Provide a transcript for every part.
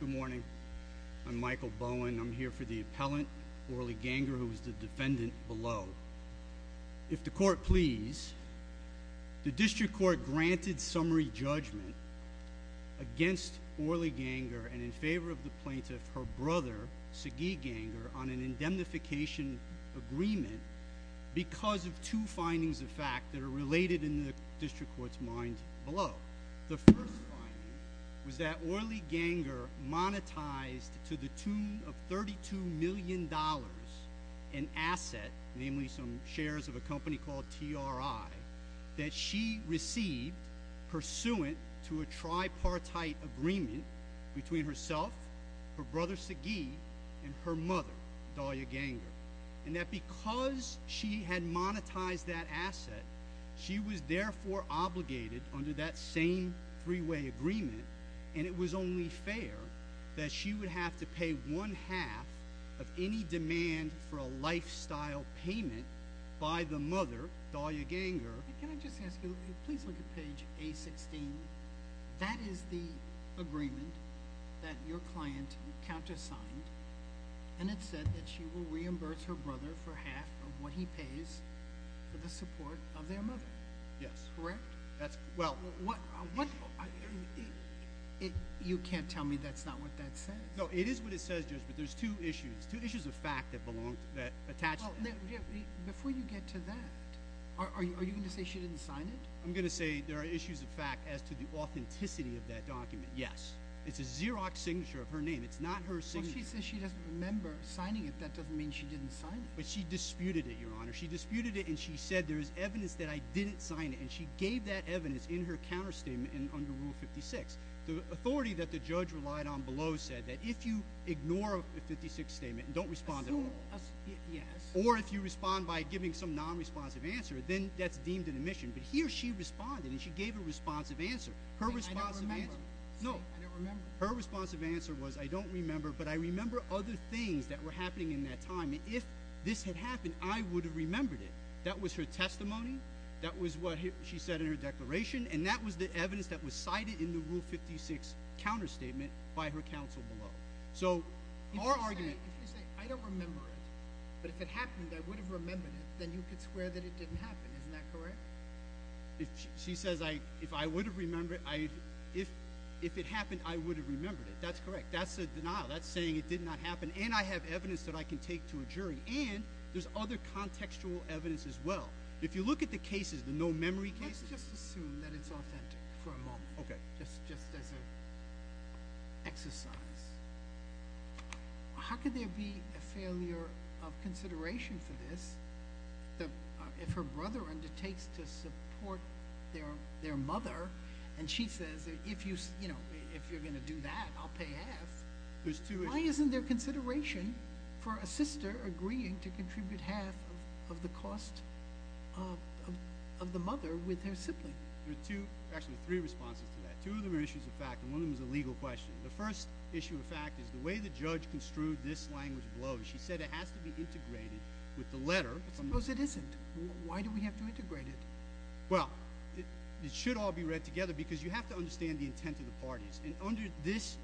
Good morning. I'm Michael Bowen. I'm here for the appellant, Orly Genger, who is the granted summary judgment against Orly Genger and in favor of the plaintiff, her brother, Sagi Genger, on an indemnification agreement because of two findings of fact that are related in the district court's mind below. The first was that Orly Genger monetized to the tune of pursuant to a tripartite agreement between herself, her brother Sagi, and her mother, Dahlia Genger, and that because she had monetized that asset, she was therefore obligated under that same three-way agreement and it was only fair that she would have to pay one half of any demand for a lifestyle payment by the mother, Dahlia Genger. Can I just ask you, please look at page A-16. That is the agreement that your client countersigned and it said that she will reimburse her brother for half of what he pays for the support of their mother. Yes. Correct? That's, well, what, you can't tell me that's not what that says. No, it is what it says, but there's two issues, two issues of fact that belong, that attach to that. Before you get to that, are you going to say she didn't sign it? I'm going to say there are issues of fact as to the authenticity of that document, yes. It's a Xerox signature of her name. It's not her signature. She says she doesn't remember signing it. That doesn't mean she didn't sign it. But she disputed it, your honor. She disputed it and she said there is evidence that I didn't sign it and she gave that evidence in her counterstatement and under Rule 56. The authority that the judge relied on said that if you ignore a 56 statement and don't respond at all, or if you respond by giving some non-responsive answer, then that's deemed an omission. But here she responded and she gave a responsive answer. Her responsive answer, no, her responsive answer was I don't remember, but I remember other things that were happening in that time. If this had happened, I would have remembered it. That was her testimony. That was what she said in her declaration and that was the counsel below. If you say I don't remember it, but if it happened, I would have remembered it, then you could swear that it didn't happen. Isn't that correct? She says if it happened, I would have remembered it. That's correct. That's a denial. That's saying it did not happen and I have evidence that I can take to a jury and there's other contextual evidence as well. If you look at the cases, the no memory cases... Let's just assume that it's authentic for a little bit. Exercise. How could there be a failure of consideration for this if her brother undertakes to support their mother and she says if you're going to do that, I'll pay half. Why isn't there consideration for a sister agreeing to contribute half of the cost of the mother with her sibling? There are two, actually three responses to that. Two of them is a legal question. The first issue of fact is the way the judge construed this language below, she said it has to be integrated with the letter. It isn't. Why do we have to integrate it? Well, it should all be read together because you have to understand the intent of the parties and under this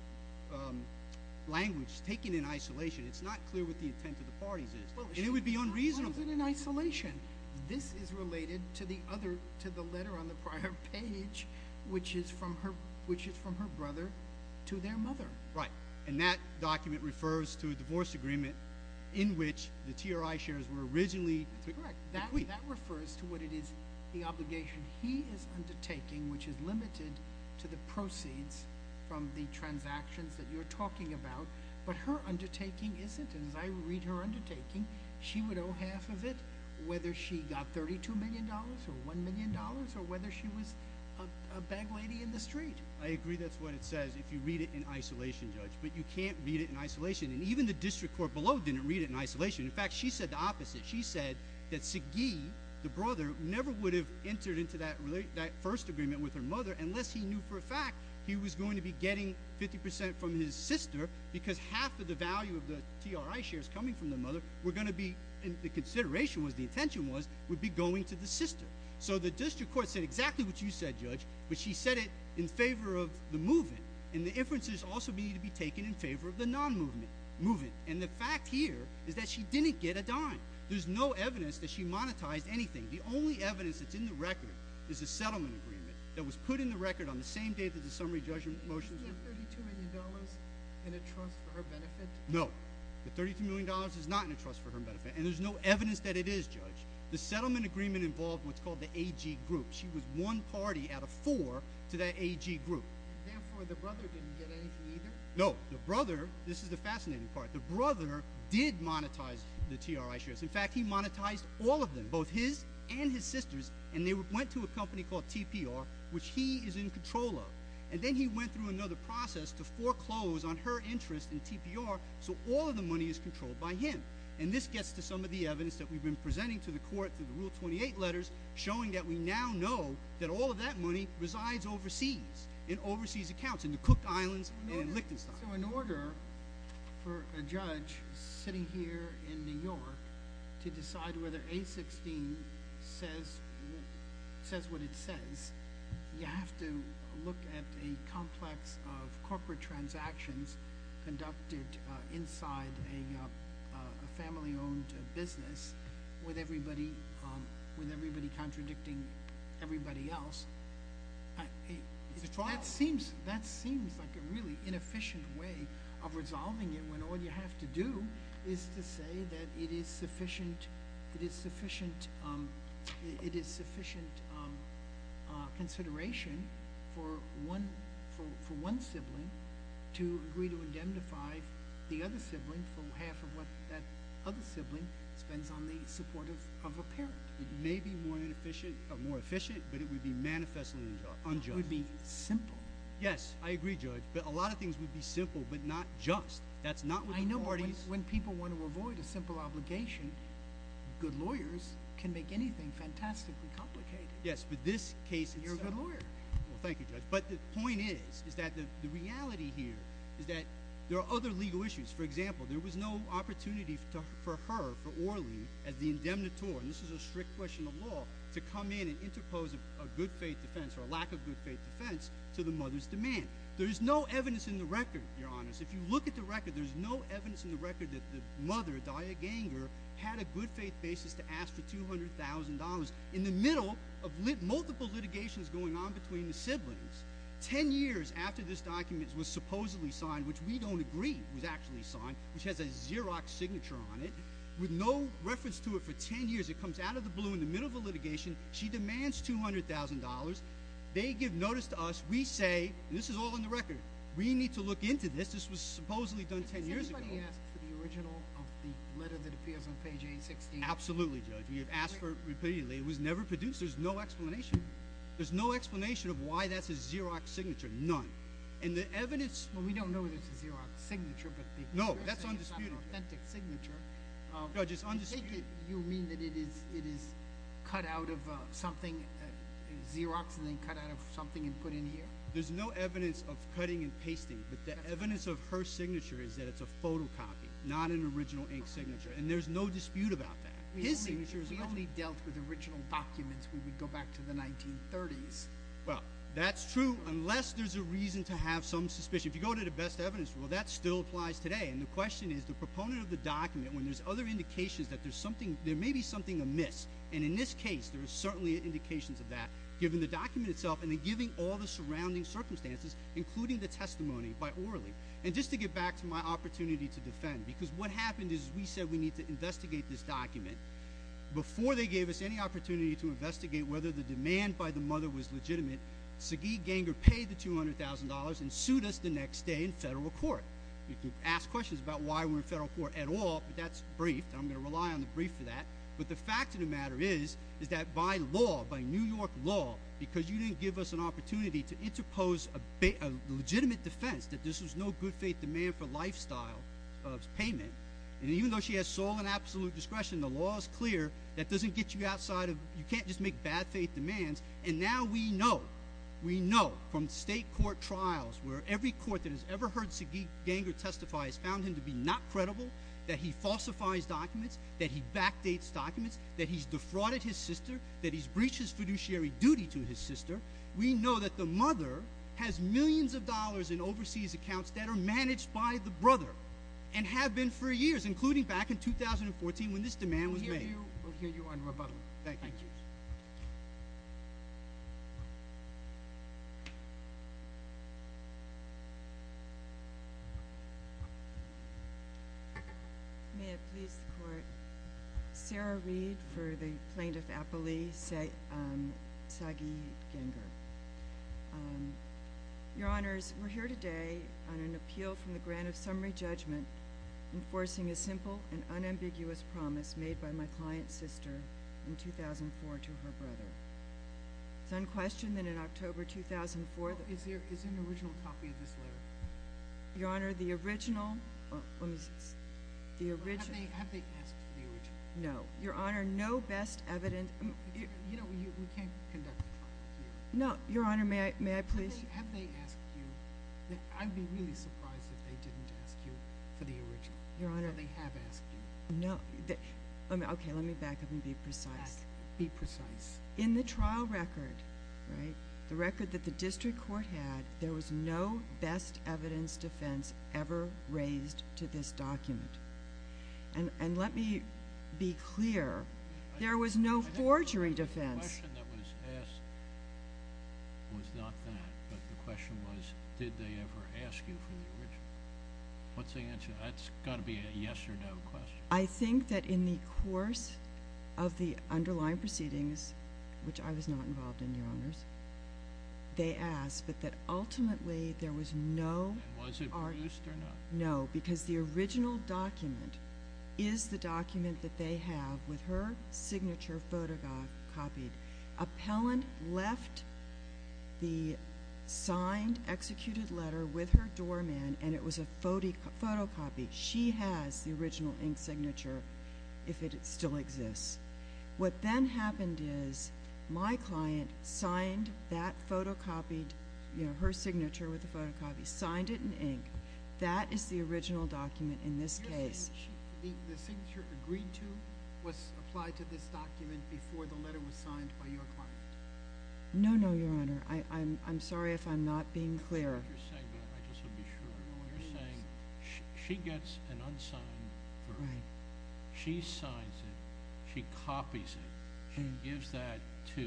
language taken in isolation, it's not clear what the intent of the parties is. It would be unreasonable. In isolation, this is related to the letter on the prior page, which is from her brother to their mother. Right. That document refers to a divorce agreement in which the TRI shares were originally... That's correct. That refers to what it is, the obligation he is undertaking, which is limited to the proceeds from the transactions that you're talking about, but her undertaking isn't. As I read her undertaking, she would owe half of it whether she got $32 million or $1 million or whether she was a bag lady in the street. I agree that's what it says if you read it in isolation, Judge, but you can't read it in isolation. Even the district court below didn't read it in isolation. In fact, she said the opposite. She said that Sagi, the brother, never would have entered into that first agreement with her mother unless he knew for a fact he was going to be getting 50% from his sister because half of the value of the TRI shares coming from the mother were going to be... The consideration was, the intention was, would be going to the sister. The district court said exactly what you said, Judge, but she said it in favor of the move-in. The inferences also need to be taken in favor of the non-move-in. The fact here is that she didn't get a dime. There's no evidence that she monetized anything. The only evidence that's in the record is a settlement agreement that was put in the record on the same day that the summary judgment motions were... Was the $32 million in a trust for her benefit? No. The $32 million is not in a trust for her benefit, and there's no evidence that it is, Judge. The settlement agreement involved what's called the AG group. She was one party out of four to that AG group. Therefore, the brother didn't get anything either? No. The brother, this is the fascinating part, the brother did monetize the TRI shares. In fact, he monetized all of them, both his and his sister's, and they went to a company called TPR, which he is in control of. Then he went through another process to foreclose on her interest in TPR, so all of the money is controlled by him. This gets to some of the evidence that we've been presenting to the court through the Rule 28 letters, showing that we now know that all of that money resides overseas, in overseas accounts, in the Cook Islands and Lichtenstein. In order for a judge sitting here in New York to decide whether A16 says what it says, you have to look at a complex of corporate transactions conducted inside a family-owned business with everybody contradicting everybody else. It's a trial. That seems like a really inefficient way of resolving it when all you have to do is to say that it is sufficient consideration for one sibling to agree to indemnify the other sibling for half of what that other sibling spends on the support of a parent. It may be more efficient, but it would be simple, but not just. When people want to avoid a simple obligation, good lawyers can make anything fantastically complicated, and you're a good lawyer. Thank you, Judge. The point is that the reality here is that there are other legal issues. For example, there was no opportunity for her, for Orly, as the indemnitor, and this is a strict question of law, to come in and interpose a good faith defense or a lack of good faith defense to the mother's demand. There's no evidence in the record, Your Honor. If you look at the record, there's no evidence in the record that the mother, Daya Ganger, had a good faith basis to ask for $200,000 in the middle of multiple litigations going on between the siblings. Ten years after this document was supposedly signed, which we don't agree was actually signed, which has a Xerox signature on it, with no reference to it for ten years, it comes out of the blue in the middle of this document. This is all in the record. We need to look into this. This was supposedly done ten years ago. Has anybody asked for the original of the letter that appears on page 816? Absolutely, Judge. We have asked for it repeatedly. It was never produced. There's no explanation. There's no explanation of why that's a Xerox signature. None. And the evidence... Well, we don't know if it's a Xerox signature, but the... No, that's undisputed. ...authentic signature. Judge, it's undisputed. You mean that it is cut out of something, Xerox, and then cut out of something and put in here? There's no evidence of cutting and pasting, but the evidence of her signature is that it's a photocopy, not an original ink signature, and there's no dispute about that. His signature is... We only dealt with original documents when we go back to the 1930s. Well, that's true unless there's a reason to have some suspicion. If you go to the best evidence, well, that still applies today, and the question is, the proponent of the document, when there's other indications that there's something, there may be something amiss, and in this case, there certainly are indications of that, given the document itself and then given all the surrounding circumstances, including the testimony by Orley. And just to get back to my opportunity to defend, because what happened is we said we need to investigate this document. Before they gave us any opportunity to investigate whether the demand by the mother was legitimate, Sagi Ganger paid the $200,000 and sued us the next day in federal court. You can ask questions about why we're in federal court at all, but that's brief, and I'm going to rely on the brief for that, but the fact of the matter is, is that by law, by New York law, because you didn't give us an opportunity to interpose a legitimate defense that this was no good faith demand for lifestyle of payment, and even though she has sole and absolute discretion, the law is clear, that doesn't get you outside of... You can't just make bad faith demands, and now we know, we know from state court trials where every court that has ever heard Sagi Ganger testify has found him to be not credible, that he falsifies documents, that he backdates documents, that he's defrauded his sister, that he's breached his fiduciary duty to his sister. We know that the mother has millions of dollars in overseas accounts that are managed by the brother, and have been for years, including back in 2014 when this demand was made. We'll hear you on rebuttal. Thank you. May it please the court. Sarah Reed for the plaintiff, Appali Sagi Ganger. Your honors, we're here today on an appeal from the grant of summary judgment, enforcing a simple and unambiguous promise made by my client's sister in 2004 to her brother. It's unquestioned that in October 2004... Is there an original copy of this letter? Your honor, the original... Have they asked for the original? No. Your honor, no best evidence... You know, we can't conduct a trial here. No. Your honor, may I please... Have they asked you? I'd be really surprised if they didn't ask you for the original. Your honor... Have they have asked you? No. Okay, let me back up and be precise. Be precise. In the trial record, right, the record that the district court had, there was no best evidence defense ever raised to this document. And let me be clear, there was no forgery defense. The question that was asked was not that, but the question was, did they ever ask you for the original? What's the answer? That's got to be a yes or no question. I think that in the course of the underlying proceedings, which I was not involved in, your honors, they asked, but that ultimately there was no... And was it produced or not? No, because the original document is the document that they have with her signature photocopied. Appellant left the signed, executed letter with her doorman, and it was a photocopy. She has the original ink signature, if it still exists. What then happened is my client signed that photocopied, her signature with the photocopy, signed it in ink. That is the original document in this case. The signature agreed to was applied to this document before the letter was signed by your client? No, no, your honor. I'm sorry if I'm not being clear. I just want to be sure. You're saying she gets an unsigned version. She signs it. She copies it. She gives that to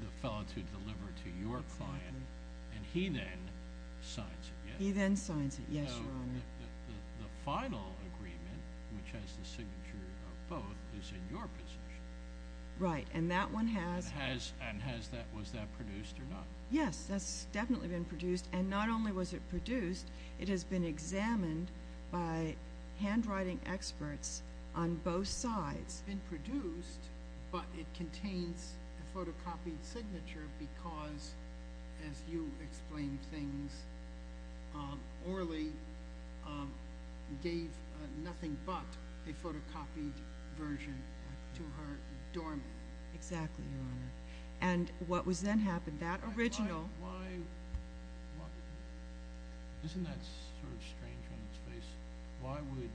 the fellow to deliver to your client, and he then signs it. He then signs it, yes, your honor. The final agreement, which has the signature of both, is in your position. Right, and that one has... And has that... Was that produced or not? Yes, that's definitely been produced, and not only was it produced, it has been examined by handwriting experts on both sides. It's been produced, but it contains a photocopied signature because, as you explained things, Orly gave nothing but a photocopied version to her doorman. Exactly, your honor, and what was then happened, that original... Isn't that sort of strange on its face? Why would...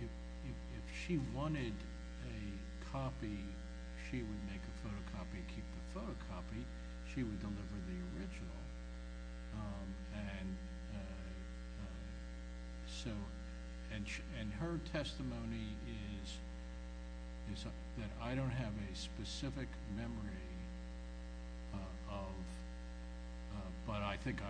If she wanted a copy, she would make a photocopy and keep the photocopy. She would deliver the original, and her testimony is that I don't have a specific memory of, but I think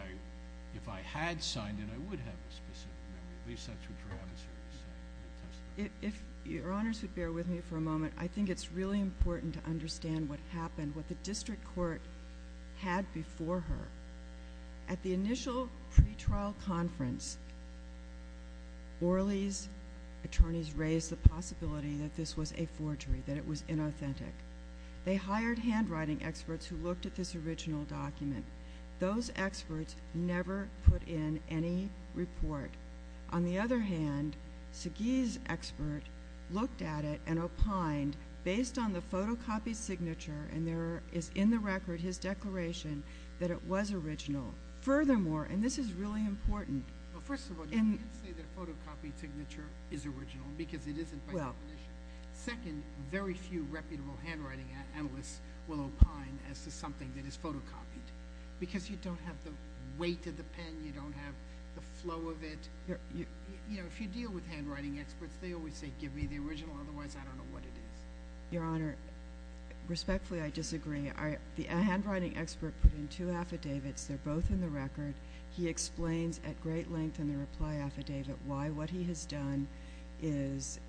if I had signed it, I would have a specific memory. At least that's what your adversary said. If your honors would bear with me for a moment, I think it's really important to understand what happened, what the district court had before her. At the initial pretrial conference, Orly's attorneys raised the possibility that this was a forgery, that it was inauthentic. They hired handwriting experts who looked at this original document. Those experts never put in any report. On the other hand, Segee's expert looked at it and opined based on the photocopied signature, and there is in the record his declaration that it was original. Furthermore, and this is really important... First of all, you can't say that a photocopied signature is original because it isn't by definition. Second, very few reputable handwriting analysts will opine as to something that is photocopied, because you don't have the weight of the pen, you don't have the flow of it. If you deal with the original, otherwise I don't know what it is. Your honor, respectfully, I disagree. A handwriting expert put in two affidavits. They're both in the record. He explains at great length in the reply affidavit why what he has done is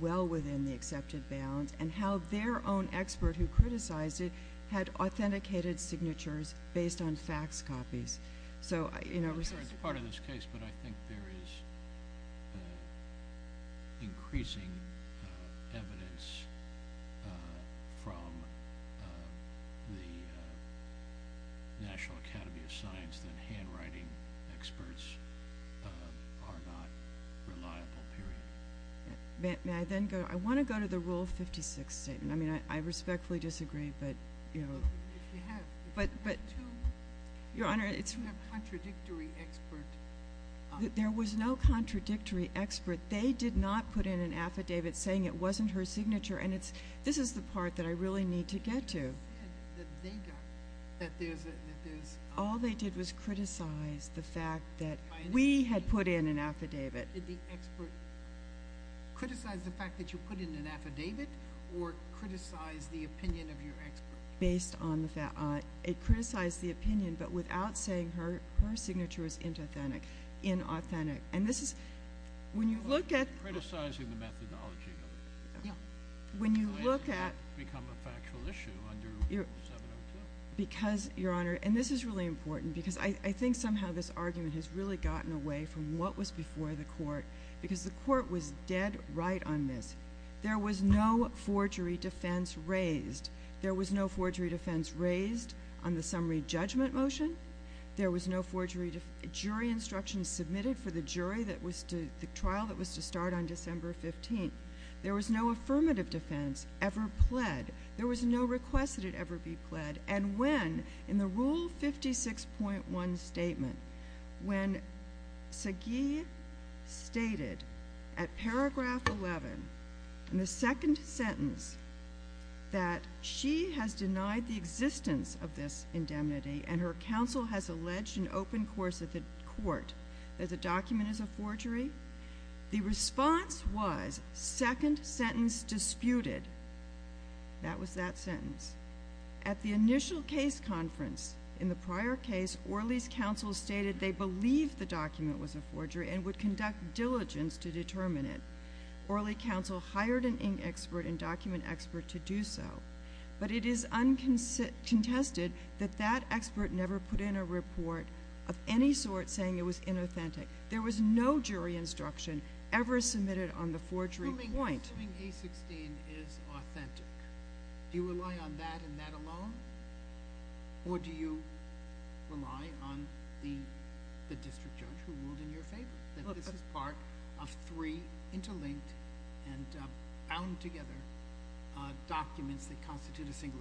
well within the accepted bounds, and how their own expert who criticized it had authenticated signatures based on fax copies. I'm sorry it's part of this case, but I think there is increasing evidence from the National Academy of Science that handwriting experts are not reliable, period. I want to go to the Rule 56 statement. I think there was no contradictory expert. They did not put in an affidavit saying it wasn't her signature. This is the part that I really need to get to. All they did was criticize the fact that we had put in an affidavit. Did the expert criticize the fact that you put in an affidavit or criticize the opinion of your expert? It criticized the opinion, but without saying her signature was inauthentic. Criticizing the methodology. When you look at— Why did it become a factual issue under Rule 702? Because, your honor, and this is really important, because I think somehow this argument has really gotten away from what was before the court, because the court was dead right on this. There was no forgery defense raised. There was no forgery defense raised on the summary judgment motion. There was no jury instruction submitted for the trial that was to start on December 15th. There was no affirmative defense ever pled. There was no request that it ever be pled. And when, in the Rule 56.1 statement, when Sagi stated at paragraph 11, in the second sentence, that she has denied the existence of this indemnity and her counsel has alleged in open course at the court that the document is a forgery, the response was, second sentence disputed. That was that sentence. At the initial case conference, in the prior case, Orley's counsel stated they believed the document was a forgery and would conduct diligence to determine it. Orley's counsel hired an ink expert and document expert to do so. But it is contested that that expert never put in a report of any sort saying it was inauthentic. There was no jury instruction ever submitted on the forgery point. Assuming A-16 is authentic, do you rely on that and that alone? Or do you rely on the district judge who ruled in your favor that this is part of three interlinked and bound together documents that constitute a single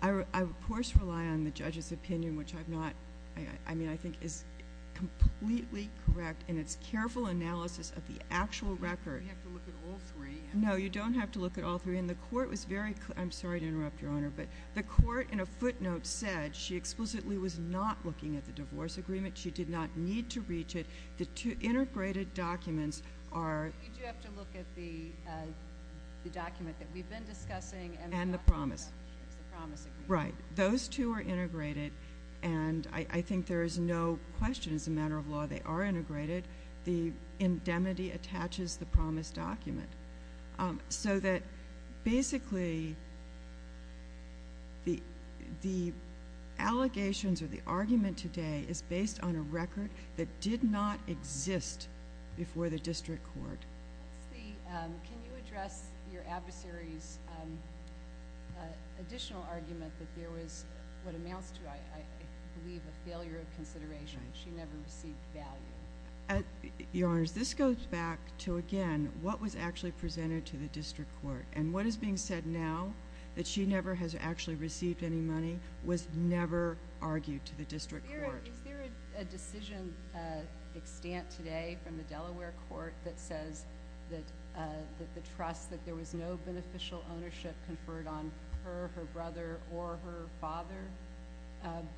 agreement? I, of course, rely on the judge's opinion, which I've not, I mean, I think is completely correct in its careful analysis of the actual record. You have to look at all three. No, you don't have to look at all three. And the court was very, I'm sorry to interrupt, Your Honor, but the court in a footnote said she explicitly was not looking at the divorce agreement. She did not need to reach it. The two integrated documents are... You do have to look at the document that we've been discussing and... And the promise. The promise agreement. Right. Those two are integrated and I think there is no question as a matter of law they are integrated. The indemnity attaches the promise document. So that basically the allegations or the argument today is based on a record that did not exist before the district court. Can you address your adversary's additional argument that there was, what amounts to, I believe, a failure of consideration. She never received value. Your Honor, this goes back to, again, what was actually presented to the district court. And what is being said now, that she never has actually received any money, was never argued to the district court. Is there a decision extant today from the Delaware court that says that the trust that there was no beneficial ownership conferred on her, her brother, or her father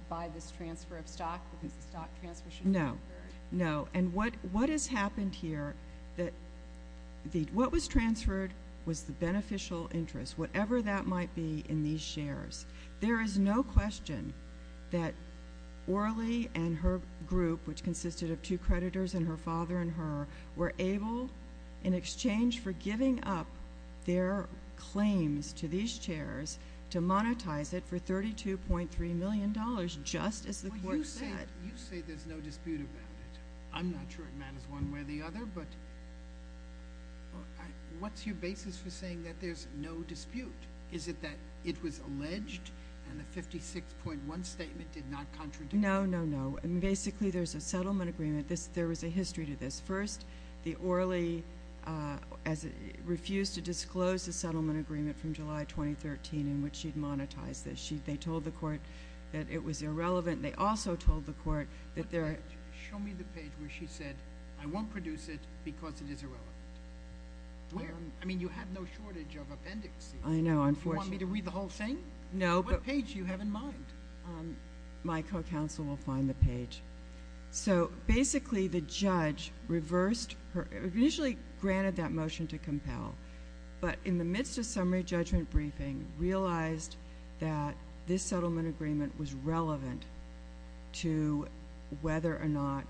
by this transfer of stock because the stock transfer should have been conferred? No. And what has happened here, what was transferred was the beneficial interest, whatever that might be, in these shares. There is no question that Orly and her group, which consisted of two creditors and her father and her, were able, in exchange for giving up their claims to these shares, to monetize it for $32.3 million, just as the court said. You say there's no dispute about it. I'm not sure it matters one way or the other, but what's your basis for saying that there's no dispute? Is it that it was alleged, and the 56.1 statement did not contradict? No, no, no. Basically, there's a settlement agreement. There was a history to this. First, the Orly refused to disclose the settlement agreement from July 2013 in which she'd had a dispute with the court. Show me the page where she said, I won't produce it because it is irrelevant. I mean, you have no shortage of appendixes. I know, unfortunately. Do you want me to read the whole thing? No. What page do you have in mind? My co-counsel will find the page. So basically, the judge reversed her, initially granted that motion to compel, but in the midst of summary judgment briefing, realized that this settlement agreement was relevant to whether or not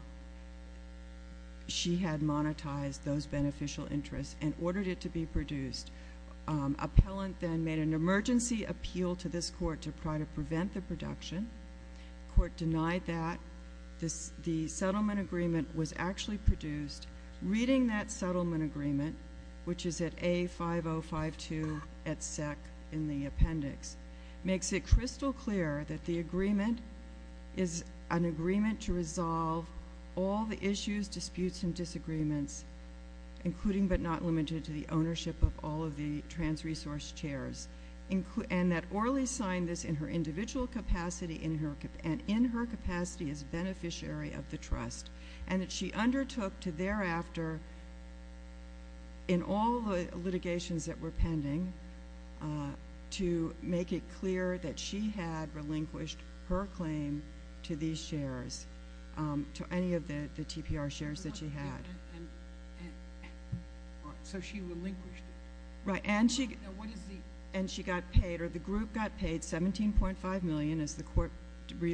she had monetized those beneficial interests and ordered it to be produced. Appellant then made an emergency appeal to this court to try to prevent the production. The court denied that. The settlement agreement was actually produced. Reading that settlement agreement, which is at A5052 at SEC in the appendix, makes it crystal clear that the agreement is an agreement to resolve all the issues, disputes, and disagreements, including but not limited to the ownership of all of the trans-resource chairs, and that Orly signed this in her individual capacity and in her took to thereafter, in all the litigations that were pending, to make it clear that she had relinquished her claim to these chairs, to any of the TPR chairs that she had. So she relinquished it? Right. And she got paid, or the group got paid $17.5 million, as the court notes,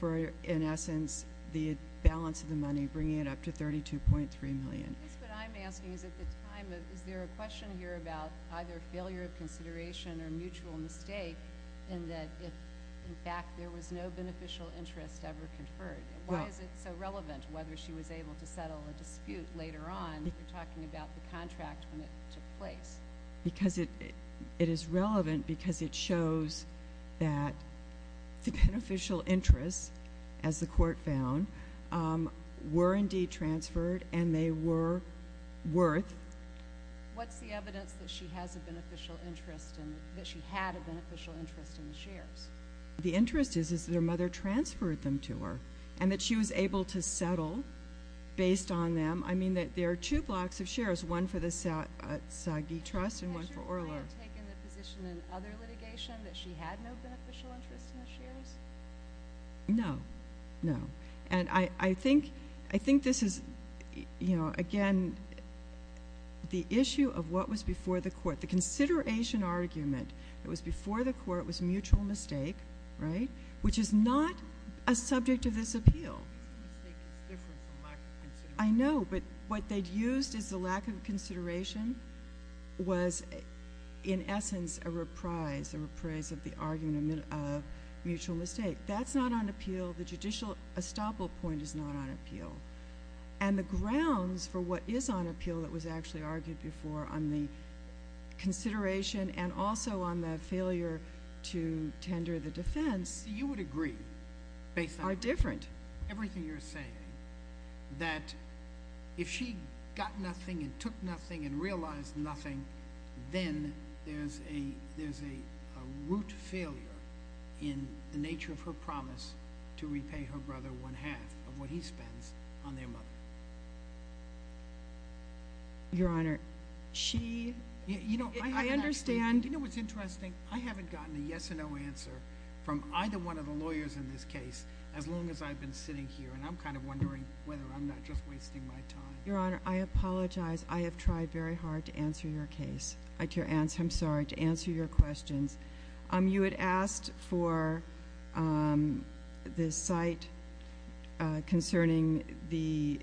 for, in essence, the balance of the money, bringing it up to $32.3 million. I guess what I'm asking is, at the time, is there a question here about either failure of consideration or mutual mistake in that, in fact, there was no beneficial interest ever conferred? Why is it so relevant, whether she was able to settle a dispute later on? You're talking about the contract when it took place. Because it is relevant because it shows that the beneficial interests, as the court found, were indeed transferred, and they were worth— What's the evidence that she has a beneficial interest in—that she had a beneficial interest in the chairs? The interest is that her mother transferred them to her, and that she was able to settle based on them. I mean that there are two blocks of shares, one for the Saagi Trust and one for Orla. Has your client taken the position in other litigation that she had no beneficial interest in the shares? No. No. And I think this is, again, the issue of what was before the court. The consideration argument that was before the court was mutual mistake, which is not a subject of this appeal. Mutual mistake is different from lack of consideration. I know, but what they'd used as the lack of consideration was, in essence, a reprise, a reprise of the argument of mutual mistake. That's not on appeal. The judicial estoppel point is not on appeal. And the grounds for what is on appeal that was actually argued before on the consideration and also on the failure to tender the defense— You would agree based on— Are different. Everything you're saying, that if she got nothing and took nothing and realized nothing, then there's a root failure in the nature of her promise to repay her brother one-half of what he spends on their mother. Your Honor, she— You know, I haven't— I understand— You know what's interesting? I haven't gotten a yes or no answer from either one of the sitting here, and I'm kind of wondering whether I'm not just wasting my time. Your Honor, I apologize. I have tried very hard to answer your case—I'm sorry—to answer your questions. You had asked for the site concerning the—in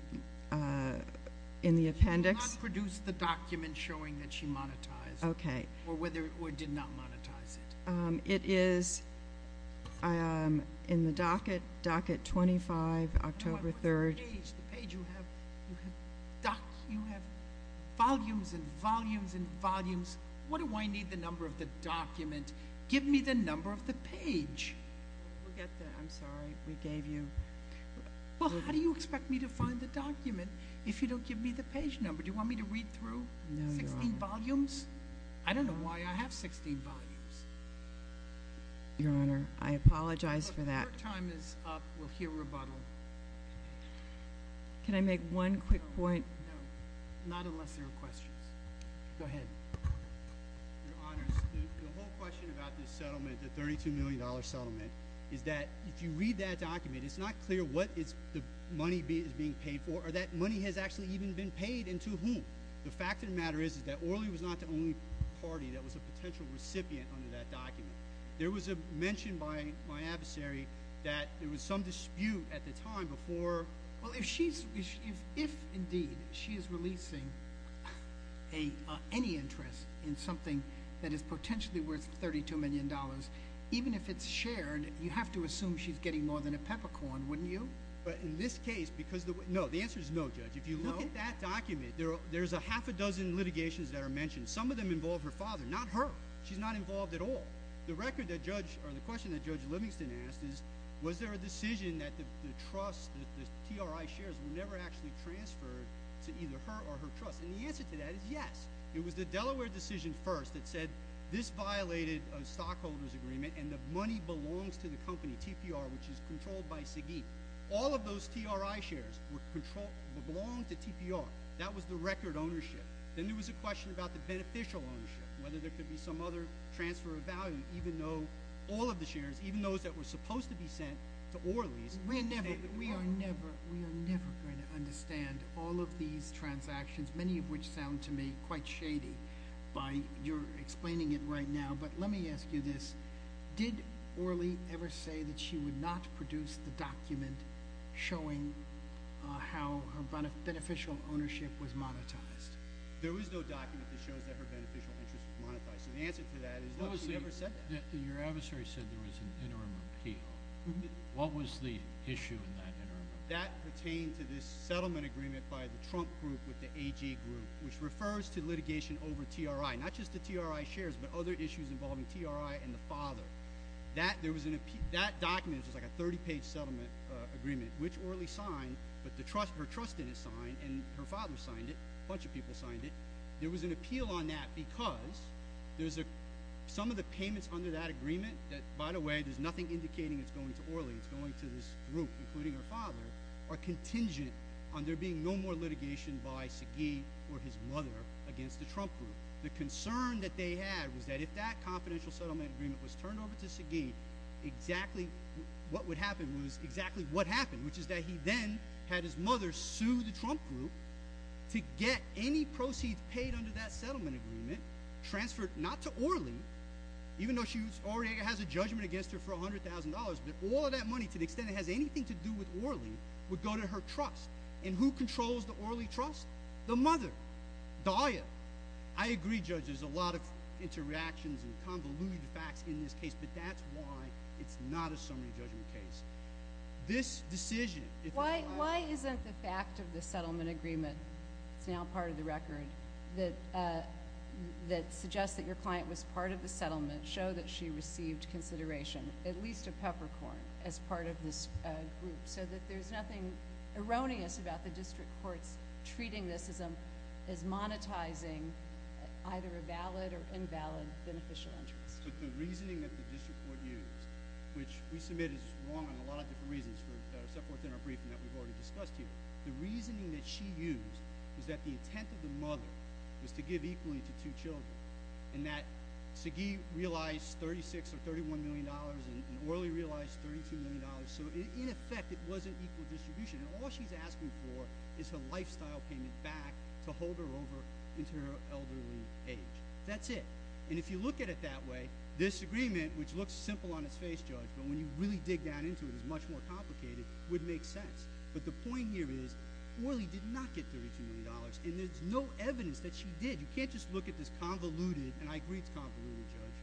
the appendix— She did not produce the document showing that she monetized. Okay. Or did not monetize it. It is in the docket, docket 25, October 3rd— No, I put the page. The page you have—you have volumes and volumes and volumes. What do I need the number of the document? Give me the number of the page. I'm sorry. We gave you— Well, how do you expect me to find the document if you don't give me the page number? Do you want me to read through 16 volumes? I don't know why I have 16 volumes. Your Honor, I apologize for that. Your time is up. We'll hear rebuttal. Can I make one quick point? Not unless there are questions. Go ahead. Your Honor, the whole question about this settlement, the $32 million settlement, is that if you read that document, it's not clear what the money is being paid for or that money has actually even been paid and to whom. The fact of the matter is that Orley was not the only party that was a potential recipient under that document. There was a mention by my adversary that there was some dispute at the time before— Well, if she's—if, indeed, she is releasing any interest in something that is potentially worth $32 million, even if it's shared, you have to assume she's getting more than a peppercorn, wouldn't you? But in this case, because—no, the answer is no, Judge. If you look at that document, there's a half a dozen litigations that are mentioned. Some of them involve her father, not her. She's not involved at all. The record that Judge—or the question that Judge Livingston asked is, was there a decision that the trust, the TRI shares, were never actually transferred to either her or her trust? And the answer to that is yes. It was the Delaware decision first that said this violated a stockholder's agreement and the money belongs to the company, TPR, which is controlled by Siggy. All of those TRI shares were controlled—belong to TPR. That was the record ownership. Then there was a question about the beneficial ownership, whether there could be some other transfer of value, even though all of the shares, even those that were supposed to be sent to Orly's— We're never—we are never—we are never going to understand all of these transactions, many of which sound to me quite shady by your explaining it right now. But let me ask you this. Did Orly ever say that she would not produce the document showing how her beneficial ownership was monetized? There was no document that shows that her beneficial interest was monetized. So the answer to that is no, she never said that. Your adversary said there was an interim appeal. What was the issue in that interim appeal? That pertained to this settlement agreement by the Trump group with the AG group, which refers to litigation over TRI, not just the TRI shares, but other issues involving TRI and the father. That there was an—that document was like a 30-page settlement agreement, which Orly signed, but the trust—her trust didn't sign, and her father signed it. A bunch of people signed it. There was an appeal on that because there's a—some of the payments under that agreement that, by the way, there's nothing indicating it's going to Orly. It's going to this group, including her father, are contingent on there being no more If that confidential settlement agreement was turned over to Sagi, exactly what would happen was exactly what happened, which is that he then had his mother sue the Trump group to get any proceeds paid under that settlement agreement transferred not to Orly, even though she already has a judgment against her for $100,000, but all of that money, to the extent it has anything to do with Orly, would go to her trust. And who controls the Orly trust? The mother, Dahlia. I agree, Judge, there's a lot of interactions and convoluted facts in this case, but that's why it's not a summary judgment case. This decision— Why isn't the fact of the settlement agreement—it's now part of the record—that suggests that your client was part of the settlement show that she received consideration, at least a peppercorn, as part of this group? So that there's nothing erroneous about the either a valid or invalid beneficial interest. But the reasoning that the district court used, which we submit is wrong on a lot of different reasons for September 4th in our briefing that we've already discussed here, the reasoning that she used was that the intent of the mother was to give equally to two children and that Sagi realized $36 or $31 million and Orly realized $32 million. So in effect, it wasn't equal distribution and all she's asking for is her elderly age. That's it. And if you look at it that way, this agreement, which looks simple on its face, Judge, but when you really dig down into it, it's much more complicated, would make sense. But the point here is Orly did not get $32 million and there's no evidence that she did. You can't just look at this convoluted—and I agree it's convoluted, Judge,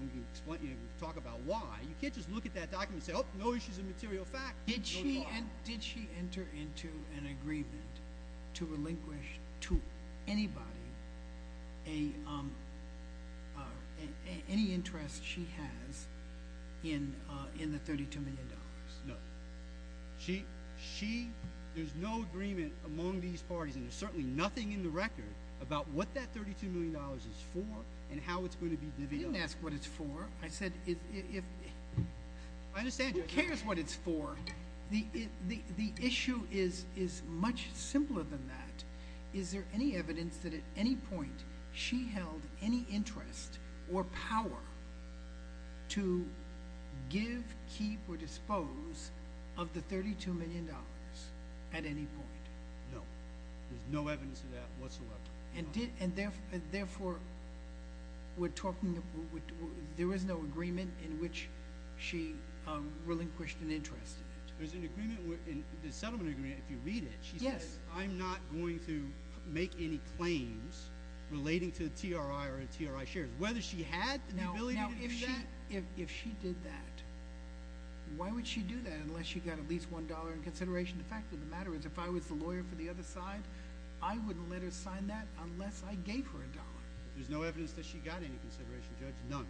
we can talk about why—you can't just look at that document and say, oh, no issues of material Did she enter into an agreement to relinquish to anybody any interest she has in the $32 million? No. There's no agreement among these parties and there's certainly nothing in the record about what that $32 million is for and how it's going to be— You didn't ask what it's for. I said if—I understand you. Who cares what it's for? The issue is much simpler than that. Is there any evidence that at any point she held any interest or power to give, keep, or dispose of the $32 million at any point? No. There's no evidence of that whatsoever. And therefore, we're talking—there was no agreement in which she relinquished an interest in it. There's an agreement in the settlement agreement, if you read it, she said, I'm not going to make any claims relating to the TRI or TRI shares, whether she had the ability to do that— Now, if she did that, why would she do that unless she got at least $1 in consideration? The fact of the matter is if I was the lawyer for the other side, I wouldn't let her sign that unless I gave her $1. There's no evidence that she got any consideration, Judge. None.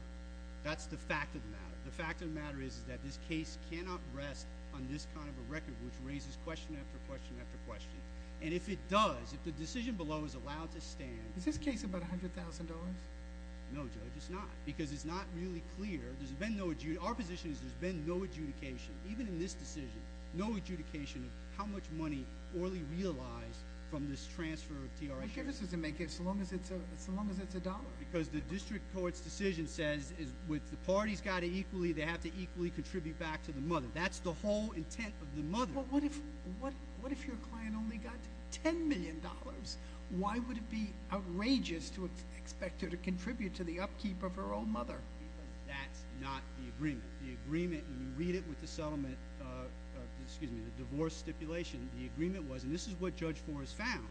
That's the fact of the matter. The fact of the matter is that this case cannot rest on this kind of a record which raises question after question after question. And if it does, if the decision below is allowed to stand— Is this case about $100,000? No, Judge, it's not because it's not really clear. There's been no—our position is there's been no adjudication, even in this decision, no adjudication of how much money Orley realized from this transfer of TRI shares. Well, give us a make, as long as it's a dollar. Because the district court's decision says with the parties got it equally, they have to equally contribute back to the mother. That's the whole intent of the mother. Well, what if your client only got $10 million? Why would it be outrageous to expect her to read it with the divorce stipulation the agreement was? And this is what Judge Forrest found,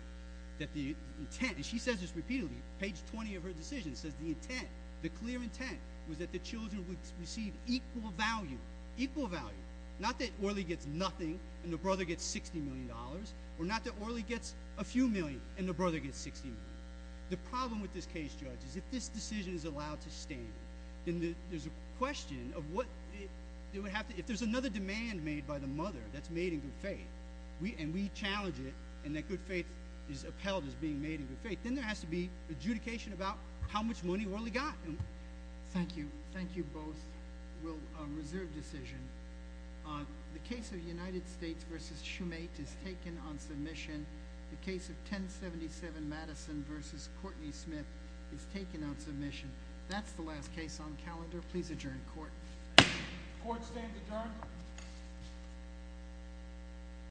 that the intent—and she says this repeatedly, page 20 of her decision says the intent, the clear intent, was that the children would receive equal value, equal value. Not that Orley gets nothing and the brother gets $60 million, or not that Orley gets a few million and the brother gets $60 million. The problem with this case, Judge, is if this decision is allowed to stand, then there's a question of what—it would have to—if there's another demand made by the mother that's made in good faith, and we challenge it and that good faith is upheld as being made in good faith, then there has to be adjudication about how much money Orley got. Thank you. Thank you both. We'll reserve decision. The case of United States versus Shoemate is taken on submission. The case of 1077 Madison versus Courtney Smith is taken on submission. That's the last case on calendar. Please adjourn court. Court stand adjourned.